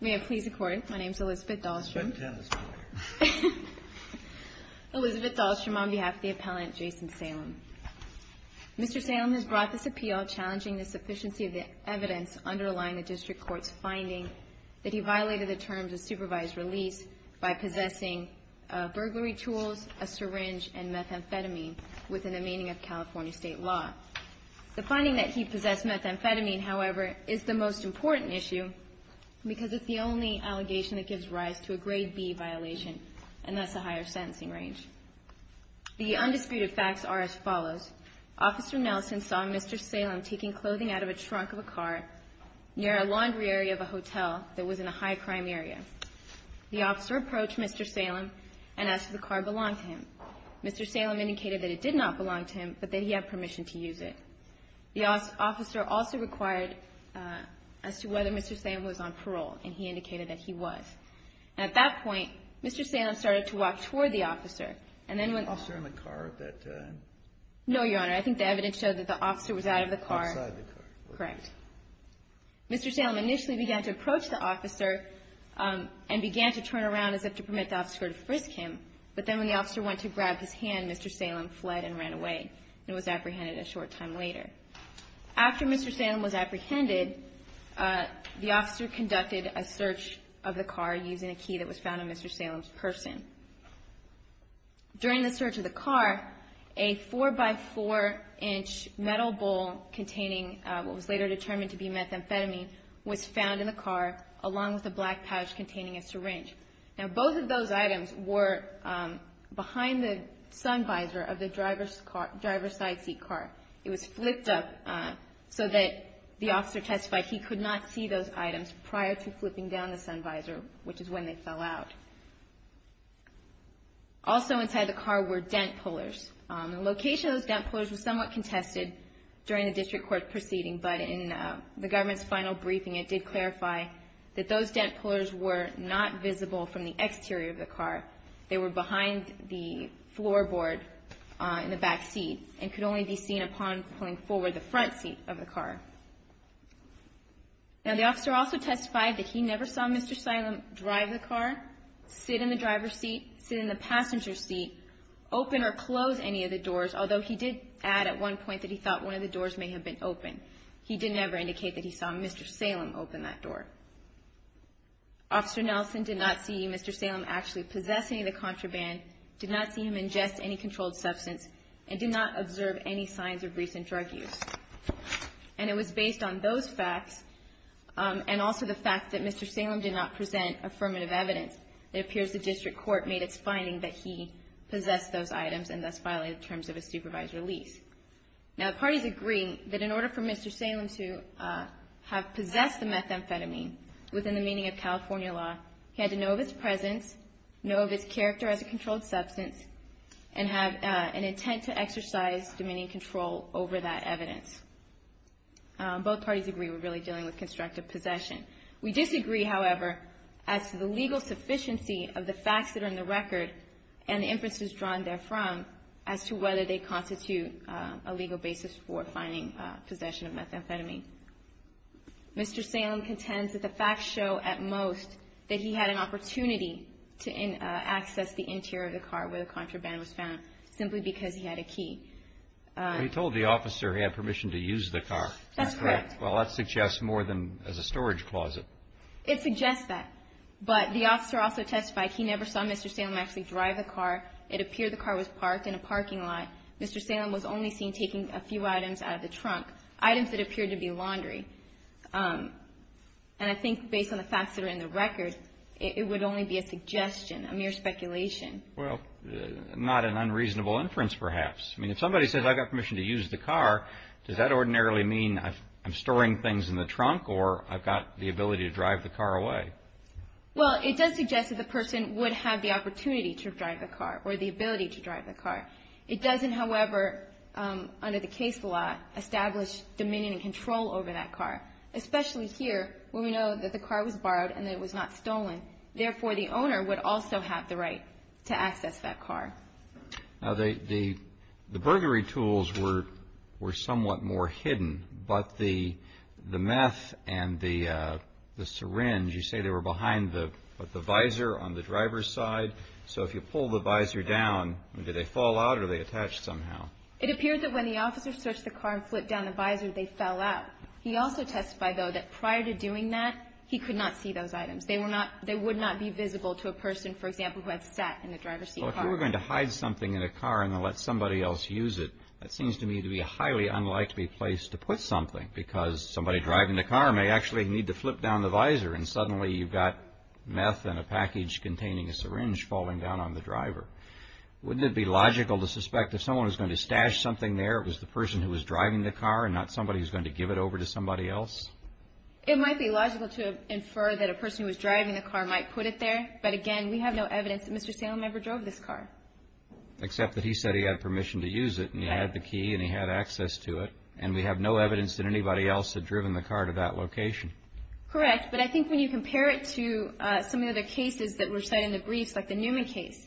May I please record? My name is Elizabeth Dahlstrom. Elizabeth Dahlstrom on behalf of the appellant, Jason Salem. Mr. Salem has brought this appeal challenging the sufficiency of the evidence underlying the district court's finding that he violated the terms of supervised release by possessing burglary tools, a syringe, and methamphetamine within the meaning of California state law. The finding that he possessed methamphetamine, however, is the most important issue because it's the only allegation that gives rise to a grade B violation, and that's a higher sentencing range. The undisputed facts are as follows. Officer Nelson saw Mr. Salem taking clothing out of a trunk of a car near a laundry area of a hotel that was in a high-crime area. The officer approached Mr. Salem and asked if the car belonged to him. Mr. Salem indicated that it did not belong to him, but that he had permission to use it. The officer also required as to whether Mr. Salem was on parole, and he indicated that he was. And at that point, Mr. Salem started to walk toward the officer and then went to the car. The officer in the car at that time? No, Your Honor. I think the evidence showed that the officer was out of the car. Outside the car. Correct. Mr. Salem initially began to approach the officer and began to turn around as if to permit the officer to frisk him. But then when the officer went to grab his hand, Mr. Salem fled and ran away and was apprehended a short time later. After Mr. Salem was apprehended, the officer conducted a search of the car using a key that was found on Mr. Salem's person. During the search of the car, a 4-by-4-inch metal bowl containing what was later determined to be methamphetamine was found in the car along with a black pouch containing a syringe. Now, both of those items were behind the sun visor of the driver's side seat car. It was flipped up so that the officer testified he could not see those items prior to flipping down the sun visor, which is when they fell out. Also inside the car were dent pullers. The location of those dent pullers was somewhat contested during the district court proceeding, but in the government's final briefing it did clarify that those dent pullers were not visible from the exterior of the car. They were behind the floorboard in the back seat and could only be seen upon pulling forward the front seat of the car. Now, the officer also testified that he never saw Mr. Salem drive the car, sit in the driver's seat, sit in the passenger seat, open or close any of the doors, although he did add at one point that he thought one of the doors may have been open. He did never indicate that he saw Mr. Salem open that door. Officer Nelson did not see Mr. Salem actually possess any of the contraband, did not see him ingest any controlled substance, and did not observe any signs of recent drug use. And it was based on those facts and also the fact that Mr. Salem did not present affirmative evidence. It appears the district court made its finding that he possessed those items and thus violated the terms of his supervised release. Now, the parties agree that in order for Mr. Salem to have possessed the methamphetamine within the meaning of California law, he had to know of its presence, know of its character as a controlled substance, and have an intent to exercise dominion and control over that evidence. Both parties agree we're really dealing with constructive possession. We disagree, however, as to the legal sufficiency of the facts that are in the record and the inferences drawn therefrom as to whether they constitute a legal basis for finding possession of methamphetamine. Mr. Salem contends that the facts show at most that he had an opportunity to access the interior of the car where the contraband was found simply because he had a key. Roberts. He told the officer he had permission to use the car. That's correct. Well, that suggests more than as a storage closet. It suggests that. But the officer also testified he never saw Mr. Salem actually drive the car. It appeared the car was parked in a parking lot. Mr. Salem was only seen taking a few items out of the trunk, items that appeared to be laundry. And I think based on the facts that are in the record, it would only be a suggestion, a mere speculation. Well, not an unreasonable inference, perhaps. I mean, if somebody says I've got permission to use the car, does that ordinarily mean I'm storing things in the trunk or I've got the ability to drive the car away? Well, it does suggest that the person would have the opportunity to drive the car or the ability to drive the car. It doesn't, however, under the case law, establish dominion and control over that car, especially here where we know that the car was borrowed and that it was not stolen. Therefore, the owner would also have the right to access that car. Now, the burglary tools were somewhat more hidden. But the meth and the syringe, you say they were behind the visor on the driver's side. So if you pull the visor down, did they fall out or are they attached somehow? It appeared that when the officer searched the car and flipped down the visor, they fell out. He also testified, though, that prior to doing that, he could not see those items. They would not be visible to a person, for example, who had sat in the driver's seat of the car. If they were going to hide something in a car and then let somebody else use it, that seems to me to be a highly unlikely place to put something because somebody driving the car may actually need to flip down the visor and suddenly you've got meth in a package containing a syringe falling down on the driver. Wouldn't it be logical to suspect if someone was going to stash something there, it was the person who was driving the car and not somebody who's going to give it over to somebody else? It might be logical to infer that a person who was driving the car might put it there. But again, we have no evidence that Mr. Salem ever drove this car. Except that he said he had permission to use it and he had the key and he had access to it, and we have no evidence that anybody else had driven the car to that location. Correct. But I think when you compare it to some of the other cases that were cited in the briefs, like the Newman case,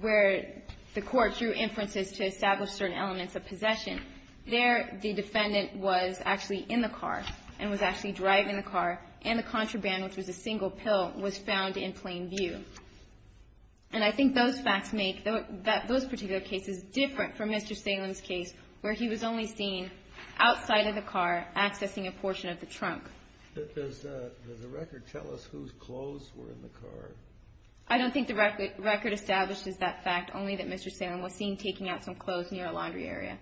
where the court drew inferences to establish certain elements of possession, there the defendant was actually in the car and was actually driving the car and the contraband, which was a single pill, was found in plain view. And I think those facts make those particular cases different from Mr. Salem's case where he was only seen outside of the car accessing a portion of the trunk. Does the record tell us whose clothes were in the car? I don't think the record establishes that fact, only that Mr. Salem was seen taking out some clothes near a laundry area.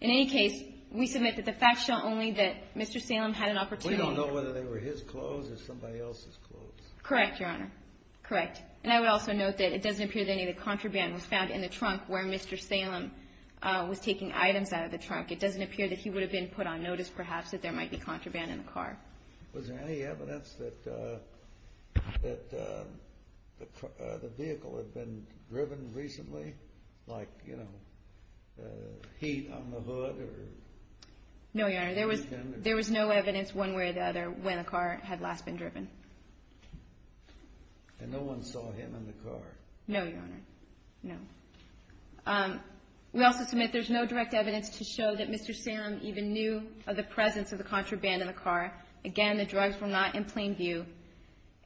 In any case, we submit that the facts show only that Mr. Salem had an opportunity to We don't know whether they were his clothes or somebody else's clothes. Correct, Your Honor. Correct. And I would also note that it doesn't appear that any of the contraband was found in the trunk where Mr. Salem was taking items out of the trunk. It doesn't appear that he would have been put on notice, perhaps, that there might be contraband in the car. Was there any evidence that the vehicle had been driven recently? Like, you know, heat on the hood or anything? No, Your Honor. There was no evidence one way or the other when the car had last been driven. And no one saw him in the car? No, Your Honor. No. We also submit there's no direct evidence to show that Mr. Salem even knew of the presence of the contraband in the car. Again, the drugs were not in plain view.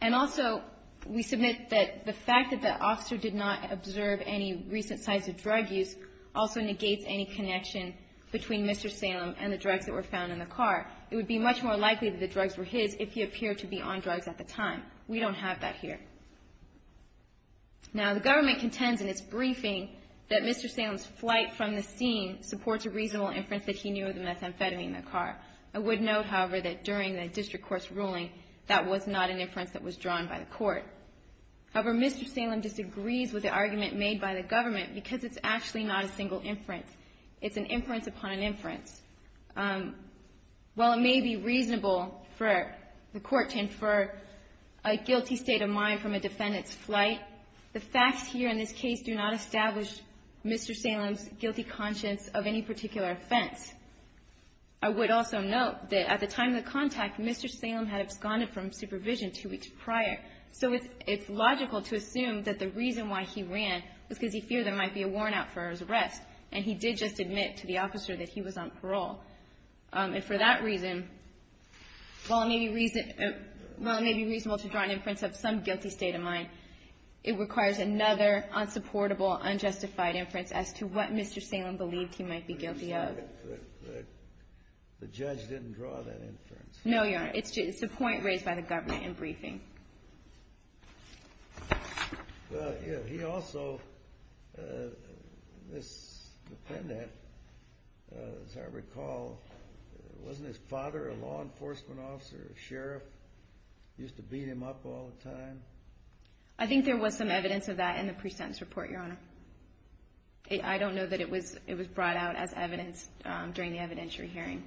And also, we submit that the fact that the officer did not observe any recent sites of drug use also negates any connection between Mr. Salem and the drugs that were found in the car. It would be much more likely that the drugs were his if he appeared to be on drugs at the time. We don't have that here. Now, the government contends in its briefing that Mr. Salem's flight from the scene supports a reasonable inference that he knew of the methamphetamine in the car. I would note, however, that during the district court's ruling, that was not an inference that was drawn by the court. However, Mr. Salem disagrees with the argument made by the government because it's actually not a single inference. It's an inference upon an inference. While it may be reasonable for the court to infer a guilty state of mind from a defendant's flight, the facts here in this case do not establish Mr. Salem's guilty conscience of any particular offense. I would also note that at the time of the contact, Mr. Salem had absconded from supervision two weeks prior. So it's logical to assume that the reason why he ran was because he feared there might be a worn-out for his arrest. And he did just admit to the officer that he was on parole. And for that reason, while it may be reasonable to draw an inference of some guilty state of mind, it requires another unsupportable, unjustified inference as to what the judge didn't draw that inference. No, Your Honor. It's a point raised by the government in briefing. He also, this defendant, as I recall, wasn't his father a law enforcement officer, a sheriff, used to beat him up all the time? I think there was some evidence of that in the pre-sentence report, Your Honor. I don't know that it was brought out as evidence during the evidentiary hearing.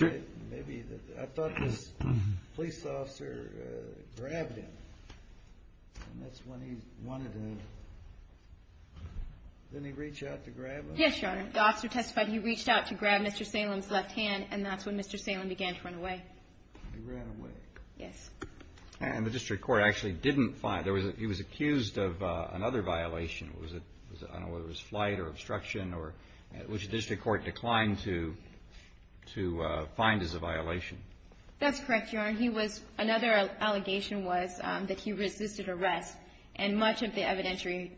I thought this police officer grabbed him. And that's when he wanted to, didn't he reach out to grab him? Yes, Your Honor. The officer testified he reached out to grab Mr. Salem's left hand, and that's when Mr. Salem began to run away. He ran away. Yes. And the district court actually didn't find, he was accused of another violation. I don't know whether it was flight or obstruction or, which the district court declined to find as a violation. That's correct, Your Honor. He was, another allegation was that he resisted arrest, and much of the evidentiary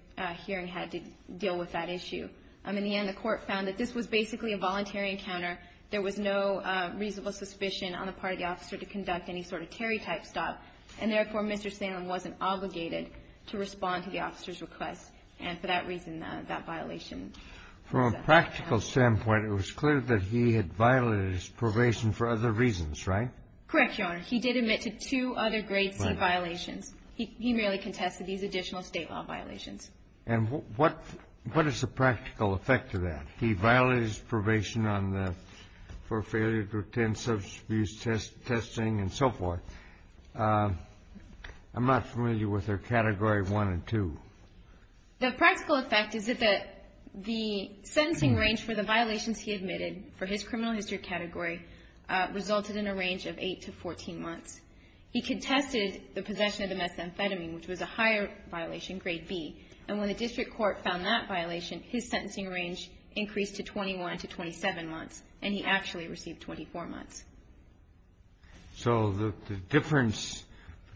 hearing had to deal with that issue. In the end, the court found that this was basically a voluntary encounter. There was no reasonable suspicion on the part of the officer to conduct any sort of evidentiary type stop. And therefore, Mr. Salem wasn't obligated to respond to the officer's request. And for that reason, that violation. From a practical standpoint, it was clear that he had violated his probation for other reasons, right? Correct, Your Honor. He did admit to two other grade C violations. He merely contested these additional state law violations. And what is the practical effect of that? He violated his probation on the, for failure to attend substance abuse testing and so forth. I'm not familiar with their Category 1 and 2. The practical effect is that the sentencing range for the violations he admitted for his criminal history category resulted in a range of 8 to 14 months. He contested the possession of the methamphetamine, which was a higher violation, grade B. And when the district court found that violation, his sentencing range increased to 21 to 27 months. And he actually received 24 months. So the difference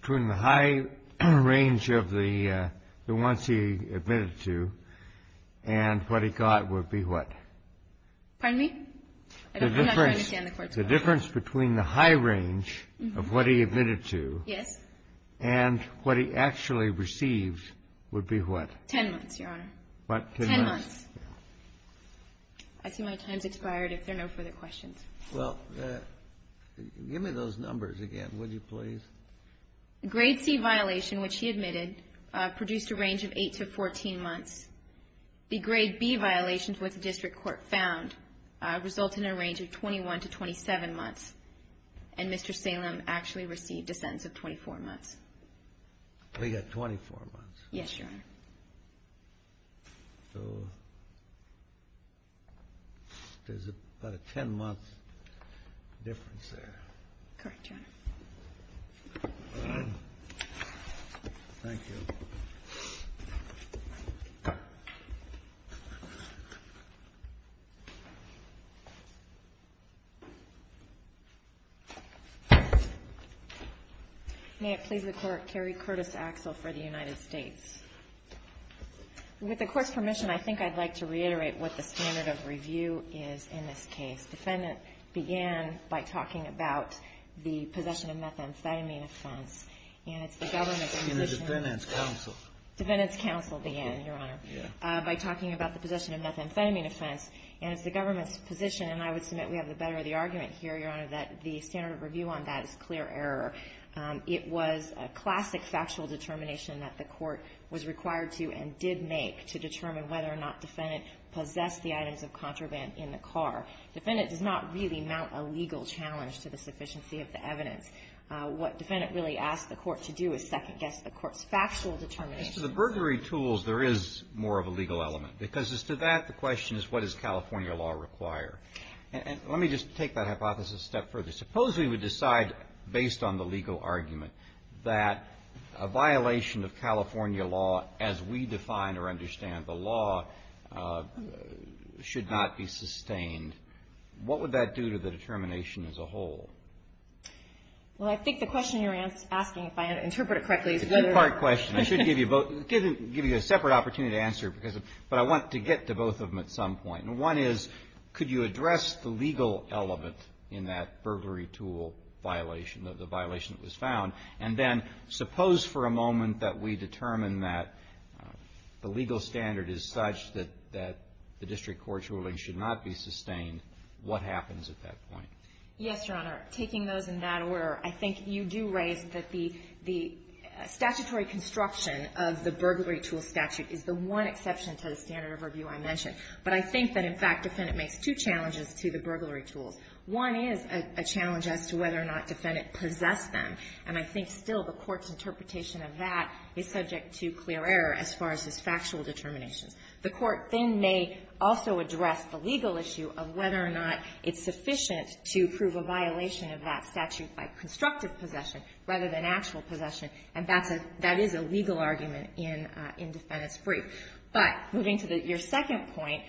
between the high range of the ones he admitted to and what he got would be what? Pardon me? I'm not sure I understand the Court's question. The difference between the high range of what he admitted to and what he actually received would be what? 10 months, Your Honor. 10 months. I see my time's expired. If there are no further questions. Well, give me those numbers again, would you please? Grade C violation, which he admitted, produced a range of 8 to 14 months. The grade B violations, which the district court found, resulted in a range of 21 to 27 months. And Mr. Salem actually received a sentence of 24 months. So he got 24 months. Yes, Your Honor. So there's about a 10-month difference there. Correct, Your Honor. Thank you. May it please the Court, Carrie Curtis Axel for the United States. With the Court's permission, I think I'd like to reiterate what the standard of review is in this case. The defendant began by talking about the possession of methamphetamine offense. And it's the government's position. In the defendant's counsel. Defendant's counsel began, Your Honor. Yeah. By talking about the possession of methamphetamine offense. And it's the government's position, and I would submit we have the better of the argument here, Your Honor, that the standard of review on that is clear error. It was a classic factual determination that the Court was required to and did make to determine whether or not defendant possessed the items of contraband in the car. Defendant does not really mount a legal challenge to the sufficiency of the evidence. What defendant really asked the Court to do is second-guess the Court's factual determination. As to the burglary tools, there is more of a legal element. Because as to that, the question is, what does California law require? And let me just take that hypothesis a step further. Suppose we would decide, based on the legal argument, that a violation of California law, as we define or understand the law, should not be sustained. What would that do to the determination as a whole? Well, I think the question you're asking, if I interpret it correctly, is whether or not… It's a two-part question. I should give you a separate opportunity to answer. But I want to get to both of them at some point. And one is, could you address the legal element in that burglary tool violation, the violation that was found? And then suppose for a moment that we determine that the legal standard is such that the district court's ruling should not be sustained. What happens at that point? Yes, Your Honor. Taking those in that order, I think you do raise that the statutory construction of the burglary tool statute is the one exception to the standard of review I mentioned. But I think that, in fact, defendant makes two challenges to the burglary tools. One is a challenge as to whether or not defendant possessed them. And I think still the Court's interpretation of that is subject to clear error as far as its factual determinations. The Court then may also address the legal issue of whether or not it's sufficient to prove a violation of that statute by constructive possession rather than actual possession, and that is a legal argument in defendant's brief. But moving to your second point,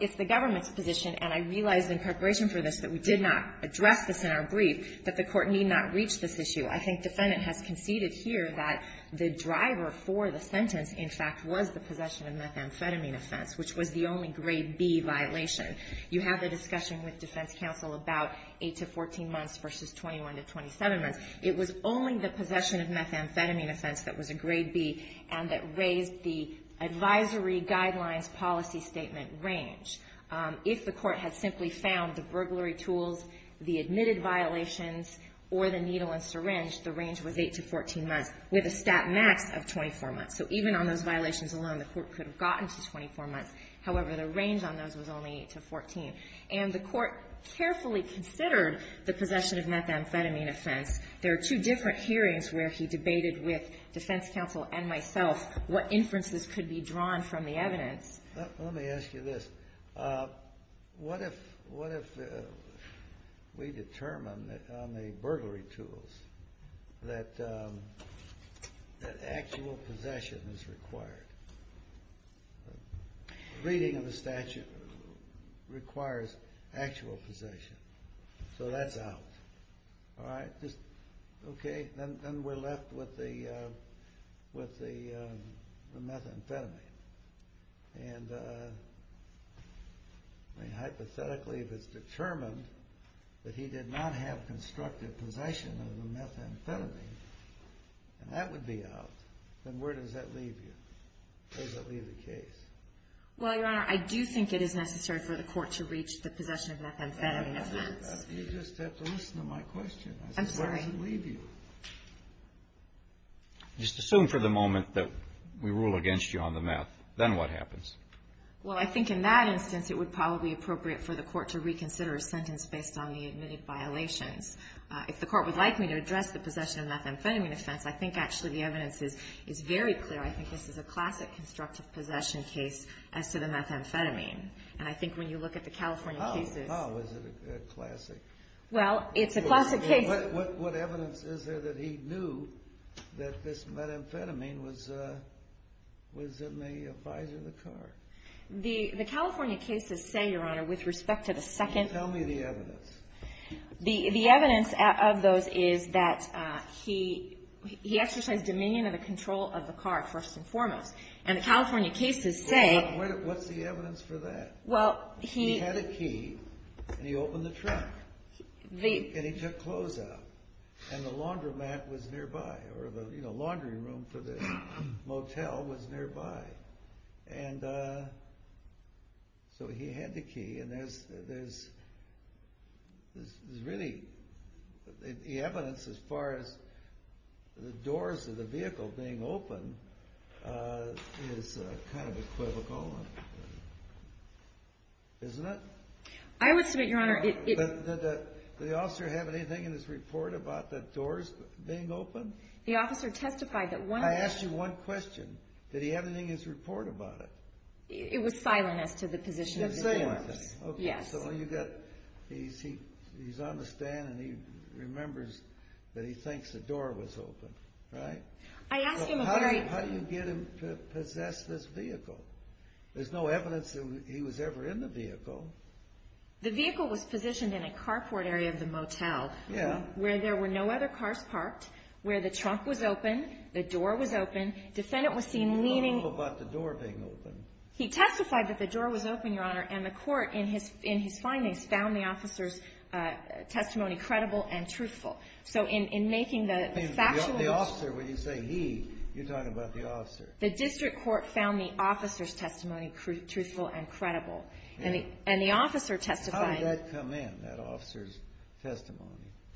it's the government's position, and I realize in preparation for this that we did not address this in our brief, that the Court need not reach this issue. I think defendant has conceded here that the driver for the sentence, in fact, was the possession of methamphetamine offense, which was the only grade B violation. You have the discussion with defense counsel about 8 to 14 months versus 21 to 27 months. It was only the possession of methamphetamine offense that was a grade B and that raised the advisory guidelines policy statement range. If the Court had simply found the burglary tools, the admitted violations, or the needle and syringe, the range was 8 to 14 months, with a stat max of 24 months. So even on those violations alone, the Court could have gotten to 24 months. However, the range on those was only 8 to 14. And the Court carefully considered the possession of methamphetamine offense. There are two different hearings where he debated with defense counsel and myself Let me ask you this. What if we determine on the burglary tools that actual possession is required? Reading of the statute requires actual possession. So that's out. Then we're left with the methamphetamine. And hypothetically, if it's determined that he did not have constructive possession of the methamphetamine, and that would be out, then where does that leave you? Where does that leave the case? Well, Your Honor, I do think it is necessary for the Court to reach the possession of methamphetamine offense. You just have to listen to my question. I'm sorry. Where does it leave you? Just assume for the moment that we rule against you on the meth. Then what happens? Well, I think in that instance, it would probably be appropriate for the Court to reconsider a sentence based on the admitted violations. If the Court would like me to address the possession of methamphetamine offense, I think actually the evidence is very clear. I think this is a classic constructive possession case as to the methamphetamine. And I think when you look at the California cases How is it a classic? Well, it's a classic case. What evidence is there that he knew that this methamphetamine was in the visor of the car? The California cases say, Your Honor, with respect to the second Tell me the evidence. The evidence of those is that he exercised dominion of the control of the car first and foremost. And the California cases say What's the evidence for that? He had a key, and he opened the trunk. And he took clothes out. And the laundromat was nearby, or the laundry room for the motel was nearby. And so he had the key, and there's really The evidence as far as the doors of the vehicle being open Is kind of equivocal, isn't it? I would submit, Your Honor, it Did the officer have anything in his report about the doors being open? The officer testified that one I asked you one question. Did he have anything in his report about it? It was silent as to the position of the doors. It was silent. Yes. He's on the stand, and he remembers that he thinks the door was open, right? I asked him a very How do you get him to possess this vehicle? There's no evidence that he was ever in the vehicle. The vehicle was positioned in a carport area of the motel Yeah. Where there were no other cars parked. Where the trunk was open. The door was open. Defendant was seen leaning He didn't know about the door being open. He testified that the door was open, Your Honor. And the court, in his findings, found the officer's testimony credible and truthful. So in making the factual The officer, when you say he, you're talking about the officer. The district court found the officer's testimony truthful and credible. And the officer testified How did that come in, that officer's testimony?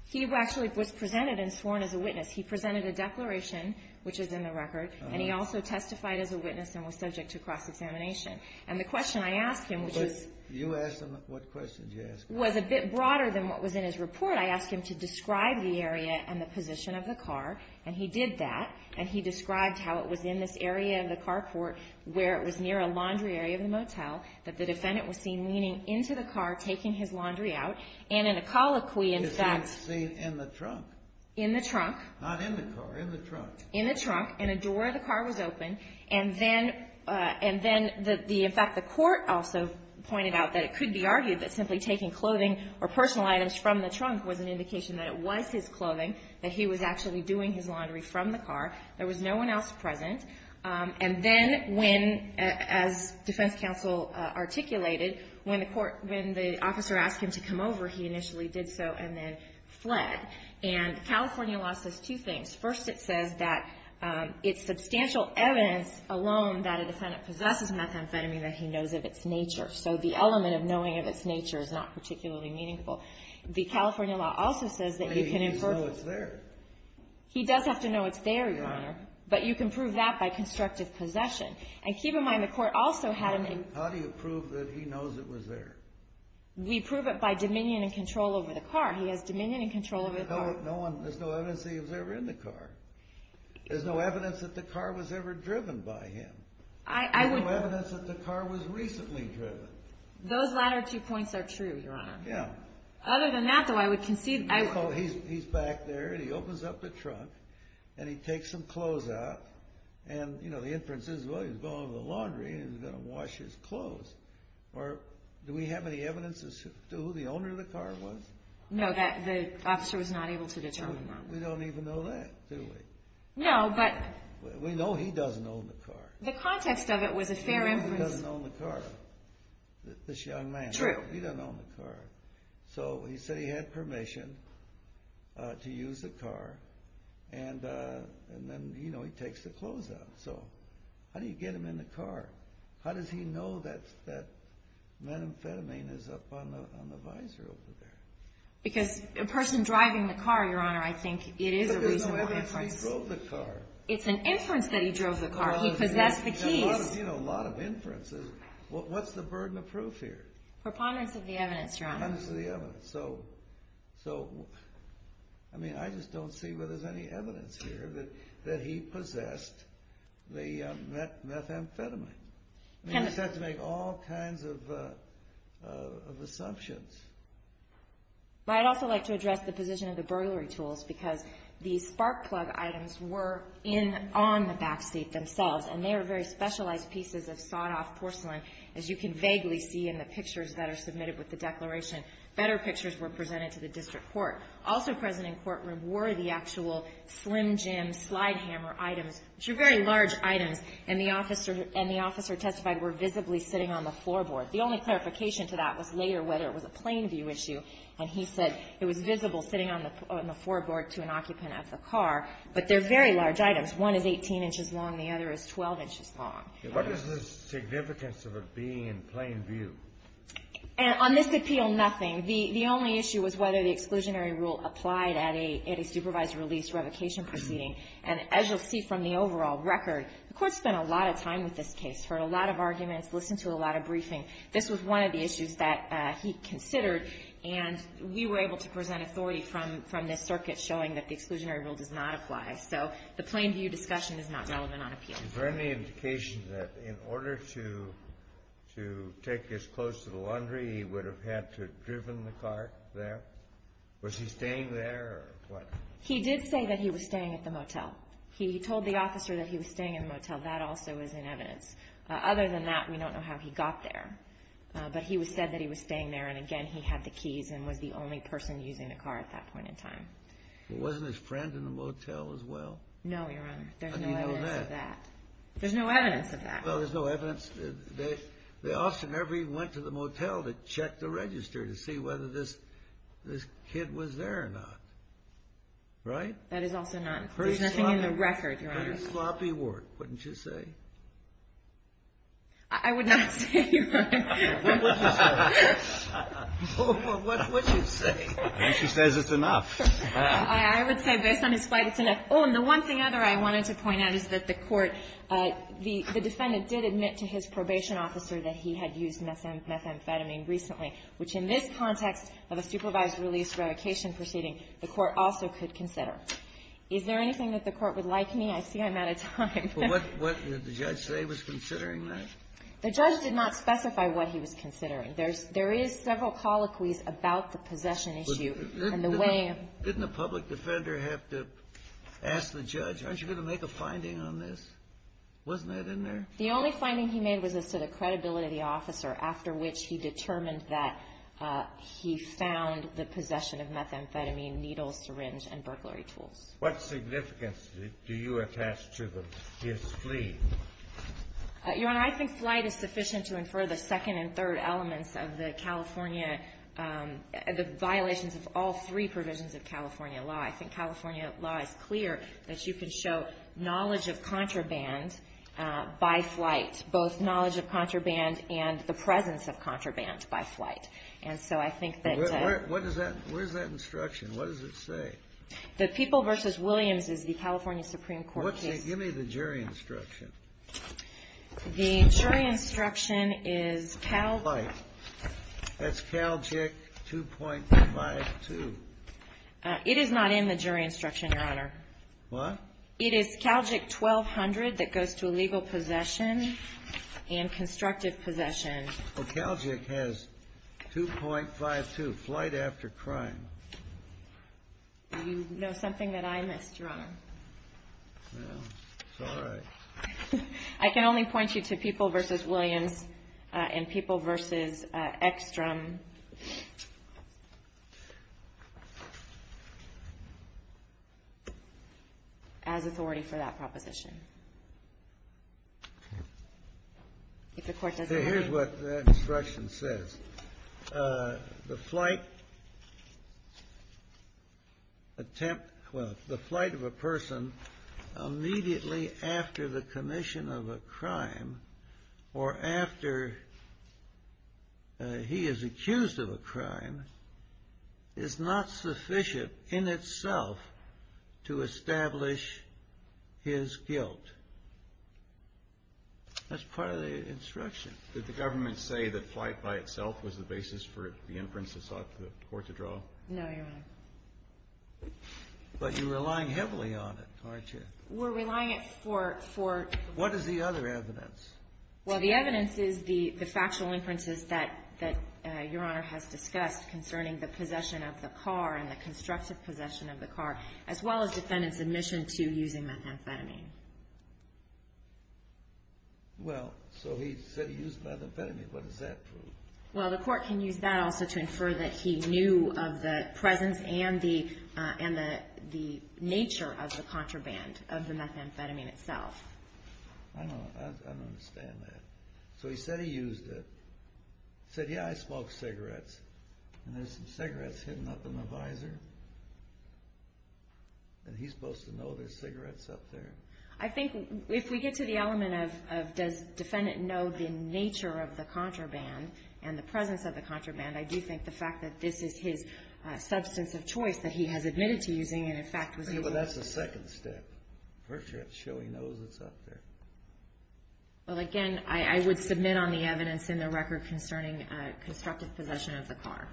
He actually was presented and sworn as a witness. He presented a declaration, which is in the record. And he also testified as a witness and was subject to cross-examination. And the question I asked him, which was You asked him, what question did you ask him? Was a bit broader than what was in his report. I asked him to describe the area and the position of the car. And he did that. And he described how it was in this area of the carport where it was near a laundry area of the motel that the defendant was seen leaning into the car, taking his laundry out. And in a colloquy, in fact He was seen in the trunk. In the trunk. Not in the car. In the trunk. In the trunk. And a door of the car was open. And then, and then the, in fact, the court also pointed out that it could be argued that simply taking clothing or personal items from the trunk was an indication that it was his clothing, that he was actually doing his laundry from the car. There was no one else present. And then when, as defense counsel articulated, when the court, when the officer asked him to come over, he initially did so and then fled. And California law says two things. First, it says that it's substantial evidence alone that a defendant possesses methamphetamine that he knows of its nature. So the element of knowing of its nature is not particularly meaningful. The California law also says that you can infer. He knows it's there. He does have to know it's there, Your Honor. But you can prove that by constructive possession. And keep in mind the court also had him in. How do you prove that he knows it was there? We prove it by dominion and control over the car. He has dominion and control over the car. There's no evidence that he was ever in the car. There's no evidence that the car was ever driven by him. There's no evidence that the car was recently driven. Those latter two points are true, Your Honor. Yeah. Other than that, though, I would concede. He's back there, and he opens up the trunk, and he takes some clothes out. And, you know, the inference is, well, he's going to the laundry, and he's going to wash his clothes. Or do we have any evidence as to who the owner of the car was? No, the officer was not able to determine that. We don't even know that, do we? No, but. We know he doesn't own the car. The context of it was a fair inference. He doesn't own the car, this young man. True. He doesn't own the car. So he said he had permission to use the car, and then, you know, he takes the clothes out. So how do you get him in the car? How does he know that methamphetamine is up on the visor over there? Because a person driving the car, Your Honor, I think it is a reasonable inference. But we don't know whether he drove the car. It's an inference that he drove the car. He possessed the keys. You know, a lot of inferences. What's the burden of proof here? Preponderance of the evidence, Your Honor. Preponderance of the evidence. So, I mean, I just don't see whether there's any evidence here that he possessed the methamphetamine. You have to make all kinds of assumptions. But I'd also like to address the position of the burglary tools, because the spark plug items were in on the backseat themselves, and they are very specialized pieces of sawed-off porcelain, as you can vaguely see in the pictures that are submitted with the declaration. Better pictures were presented to the district court. Also present in courtroom were the actual Slim Jim slide hammer items, which are very large items, and the officer testified were visibly sitting on the floorboard. The only clarification to that was later whether it was a plain view issue. And he said it was visible sitting on the floorboard to an occupant at the car. But they're very large items. One is 18 inches long. The other is 12 inches long. What is the significance of it being in plain view? On this appeal, nothing. The only issue was whether the exclusionary rule applied at a supervised release revocation proceeding. And as you'll see from the overall record, the Court spent a lot of time with this case, heard a lot of arguments, listened to a lot of briefing. This was one of the issues that he considered, and we were able to present authority from this circuit showing that the exclusionary rule does not apply. So the plain view discussion is not relevant on appeal. Is there any indication that in order to take this close to the laundry, he would have had to have driven the car there? Was he staying there or what? He did say that he was staying at the motel. He told the officer that he was staying at the motel. That also is in evidence. Other than that, we don't know how he got there. But he said that he was staying there, and, again, he had the keys and was the only person using the car at that point in time. But wasn't his friend in the motel as well? No, Your Honor. There's no evidence of that. How do you know that? There's no evidence of that. Well, there's no evidence. The officer never even went to the motel to check the register to see whether this kid was there or not. Right? That is also not. There's nothing in the record, Your Honor. Sloppy work, wouldn't you say? I would not say, Your Honor. What would you say? What would you say? She says it's enough. I would say, based on his fight, it's enough. Oh, and the one thing other I wanted to point out is that the Court, the defendant did admit to his probation officer that he had used methamphetamine recently, which in this context of a supervised release revocation proceeding, the Court also could consider. Is there anything that the Court would like me? I see I'm out of time. What did the judge say was considering that? The judge did not specify what he was considering. There is several colloquies about the possession issue and the way. Didn't the public defender have to ask the judge, aren't you going to make a finding on this? Wasn't that in there? The only finding he made was as to the credibility of the officer, after which he determined that he found the possession of methamphetamine, needles, syringe, and burglary tools. What significance do you attach to his plea? Your Honor, I think flight is sufficient to infer the second and third elements of the California, the violations of all three provisions of California law. I think California law is clear that you can show knowledge of contraband by flight, both knowledge of contraband and the presence of contraband by flight. And so I think that the What is that instruction? What does it say? The People v. Williams is the California Supreme Court case. Give me the jury instruction. The jury instruction is Cal Flight. That's CALJIC 2.52. It is not in the jury instruction, Your Honor. What? It is CALJIC 1200 that goes to illegal possession and constructive possession. Well, CALJIC has 2.52, flight after crime. Do you know something that I missed, Your Honor? No. It's all right. I can only point you to People v. Williams and People v. Ekstrom as authority for that proposition. If the Court doesn't mind. Here's what that instruction says. The flight attempt, well, the flight of a person immediately after the commission of a crime or after he is accused of a crime is not sufficient in itself to establish his guilt. That's part of the instruction. Did the government say that flight by itself was the basis for the inference it sought the Court to draw? No, Your Honor. But you're relying heavily on it, aren't you? We're relying it for What is the other evidence? Well, the evidence is the factual inferences that Your Honor has discussed concerning the possession of the car and the constructive possession of the car, as well as defendant's admission to using methamphetamine. Well, so he said he used methamphetamine. What does that prove? Well, the Court can use that also to infer that he knew of the presence and the nature of the contraband of the methamphetamine itself. I don't understand that. So he said he used it. He said, yeah, I smoke cigarettes. And there's some cigarettes hidden up in the visor. And he's supposed to know there's cigarettes up there. I think if we get to the element of does defendant know the nature of the contraband and the presence of the contraband, I do think the fact that this is his substance of choice that he has admitted to using and, in fact, was able to But that's the second step. First, you have to show he knows it's up there. Well, again, I would submit on the evidence in the record concerning constructive possession of the car.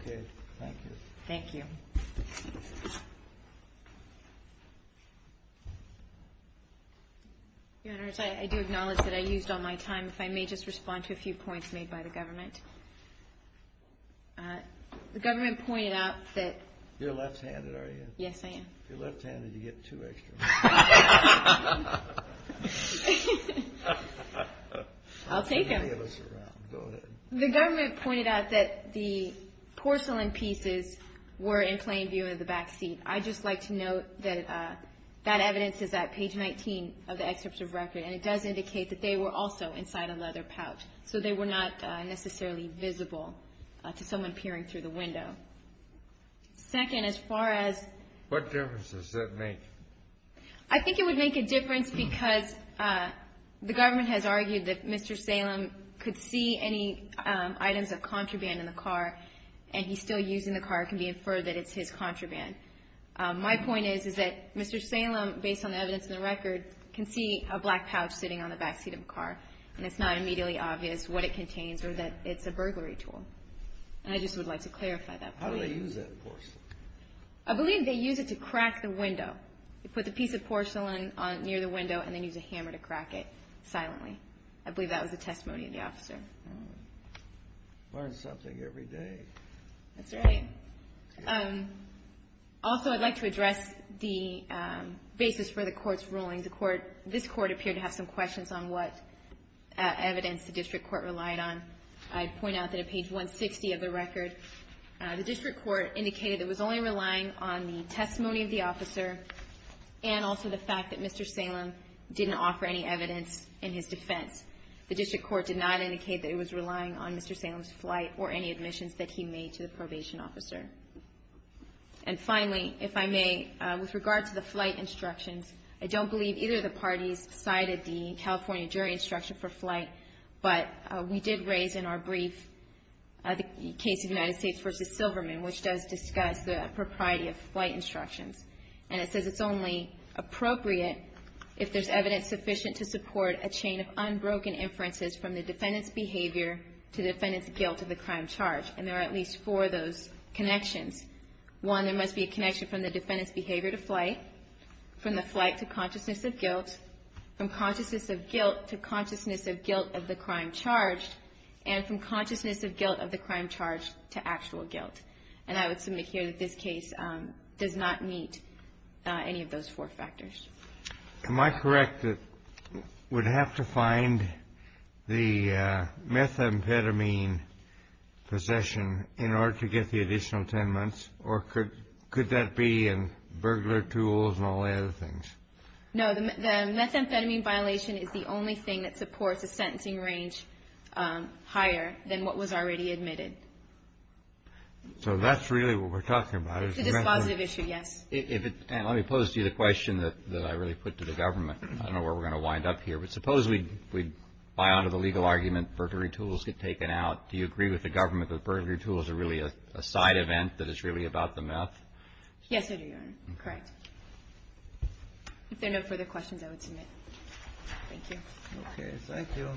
Okay. Thank you. Thank you. Your Honor, I do acknowledge that I used all my time. If I may just respond to a few points made by the government. The government pointed out that You're left-handed, are you? Yes, I am. If you're left-handed, you get two extra minutes. I'll take them. Many of us are out. Go ahead. The government pointed out that the porcelain pieces were in plain view of the backseat. I'd just like to note that that evidence is at page 19 of the excerpt of record, and it does indicate that they were also inside a leather pouch. So they were not necessarily visible to someone peering through the window. Second, as far as What difference does that make? I think it would make a difference because the government has argued that Mr. Salem could see any items of contraband in the car, and he's still using the car. It can be inferred that it's his contraband. My point is, is that Mr. Salem, based on the evidence in the record, can see a black pouch sitting on the backseat of the car, and it's not immediately obvious what it contains or that it's a burglary tool. And I just would like to clarify that point. How do they use that porcelain? I believe they use it to crack the window. They put the piece of porcelain near the window and then use a hammer to crack it silently. I believe that was the testimony of the officer. Learn something every day. That's right. Also, I'd like to address the basis for the Court's ruling. This Court appeared to have some questions on what evidence the district court relied on. I'd point out that at page 160 of the record, the district court indicated it was only relying on the testimony of the officer and also the fact that Mr. Salem didn't offer any evidence in his defense. The district court did not indicate that it was relying on Mr. Salem's flight or any admissions that he made to the probation officer. And finally, if I may, with regard to the flight instructions, I don't believe either of the parties cited the California jury instruction for flight, but we did raise in our brief the case of United States v. Silverman, which does discuss the propriety of flight instructions. And it says it's only appropriate if there's evidence sufficient to support a chain of unbroken inferences from the defendant's behavior to the defendant's guilt of the crime charged. And there are at least four of those connections. One, there must be a connection from the defendant's behavior to flight, from the flight to consciousness of guilt, from consciousness of guilt to consciousness of guilt of the crime charged, and from consciousness of guilt of the crime charged to actual guilt. And I would submit here that this case does not meet any of those four factors. Am I correct that we'd have to find the methamphetamine possession in order to get the additional 10 months, or could that be in burglar tools and all the other things? No. The methamphetamine violation is the only thing that supports a sentencing range higher than what was already admitted. So that's really what we're talking about. It's a dispositive issue, yes. Let me pose to you the question that I really put to the government. I don't know where we're going to wind up here, but suppose we buy onto the legal argument, burglary tools get taken out. Do you agree with the government that burglary tools are really a side event that is really about the meth? Yes, Your Honor. Correct. If there are no further questions, I would submit. Thank you. Okay. Thank you.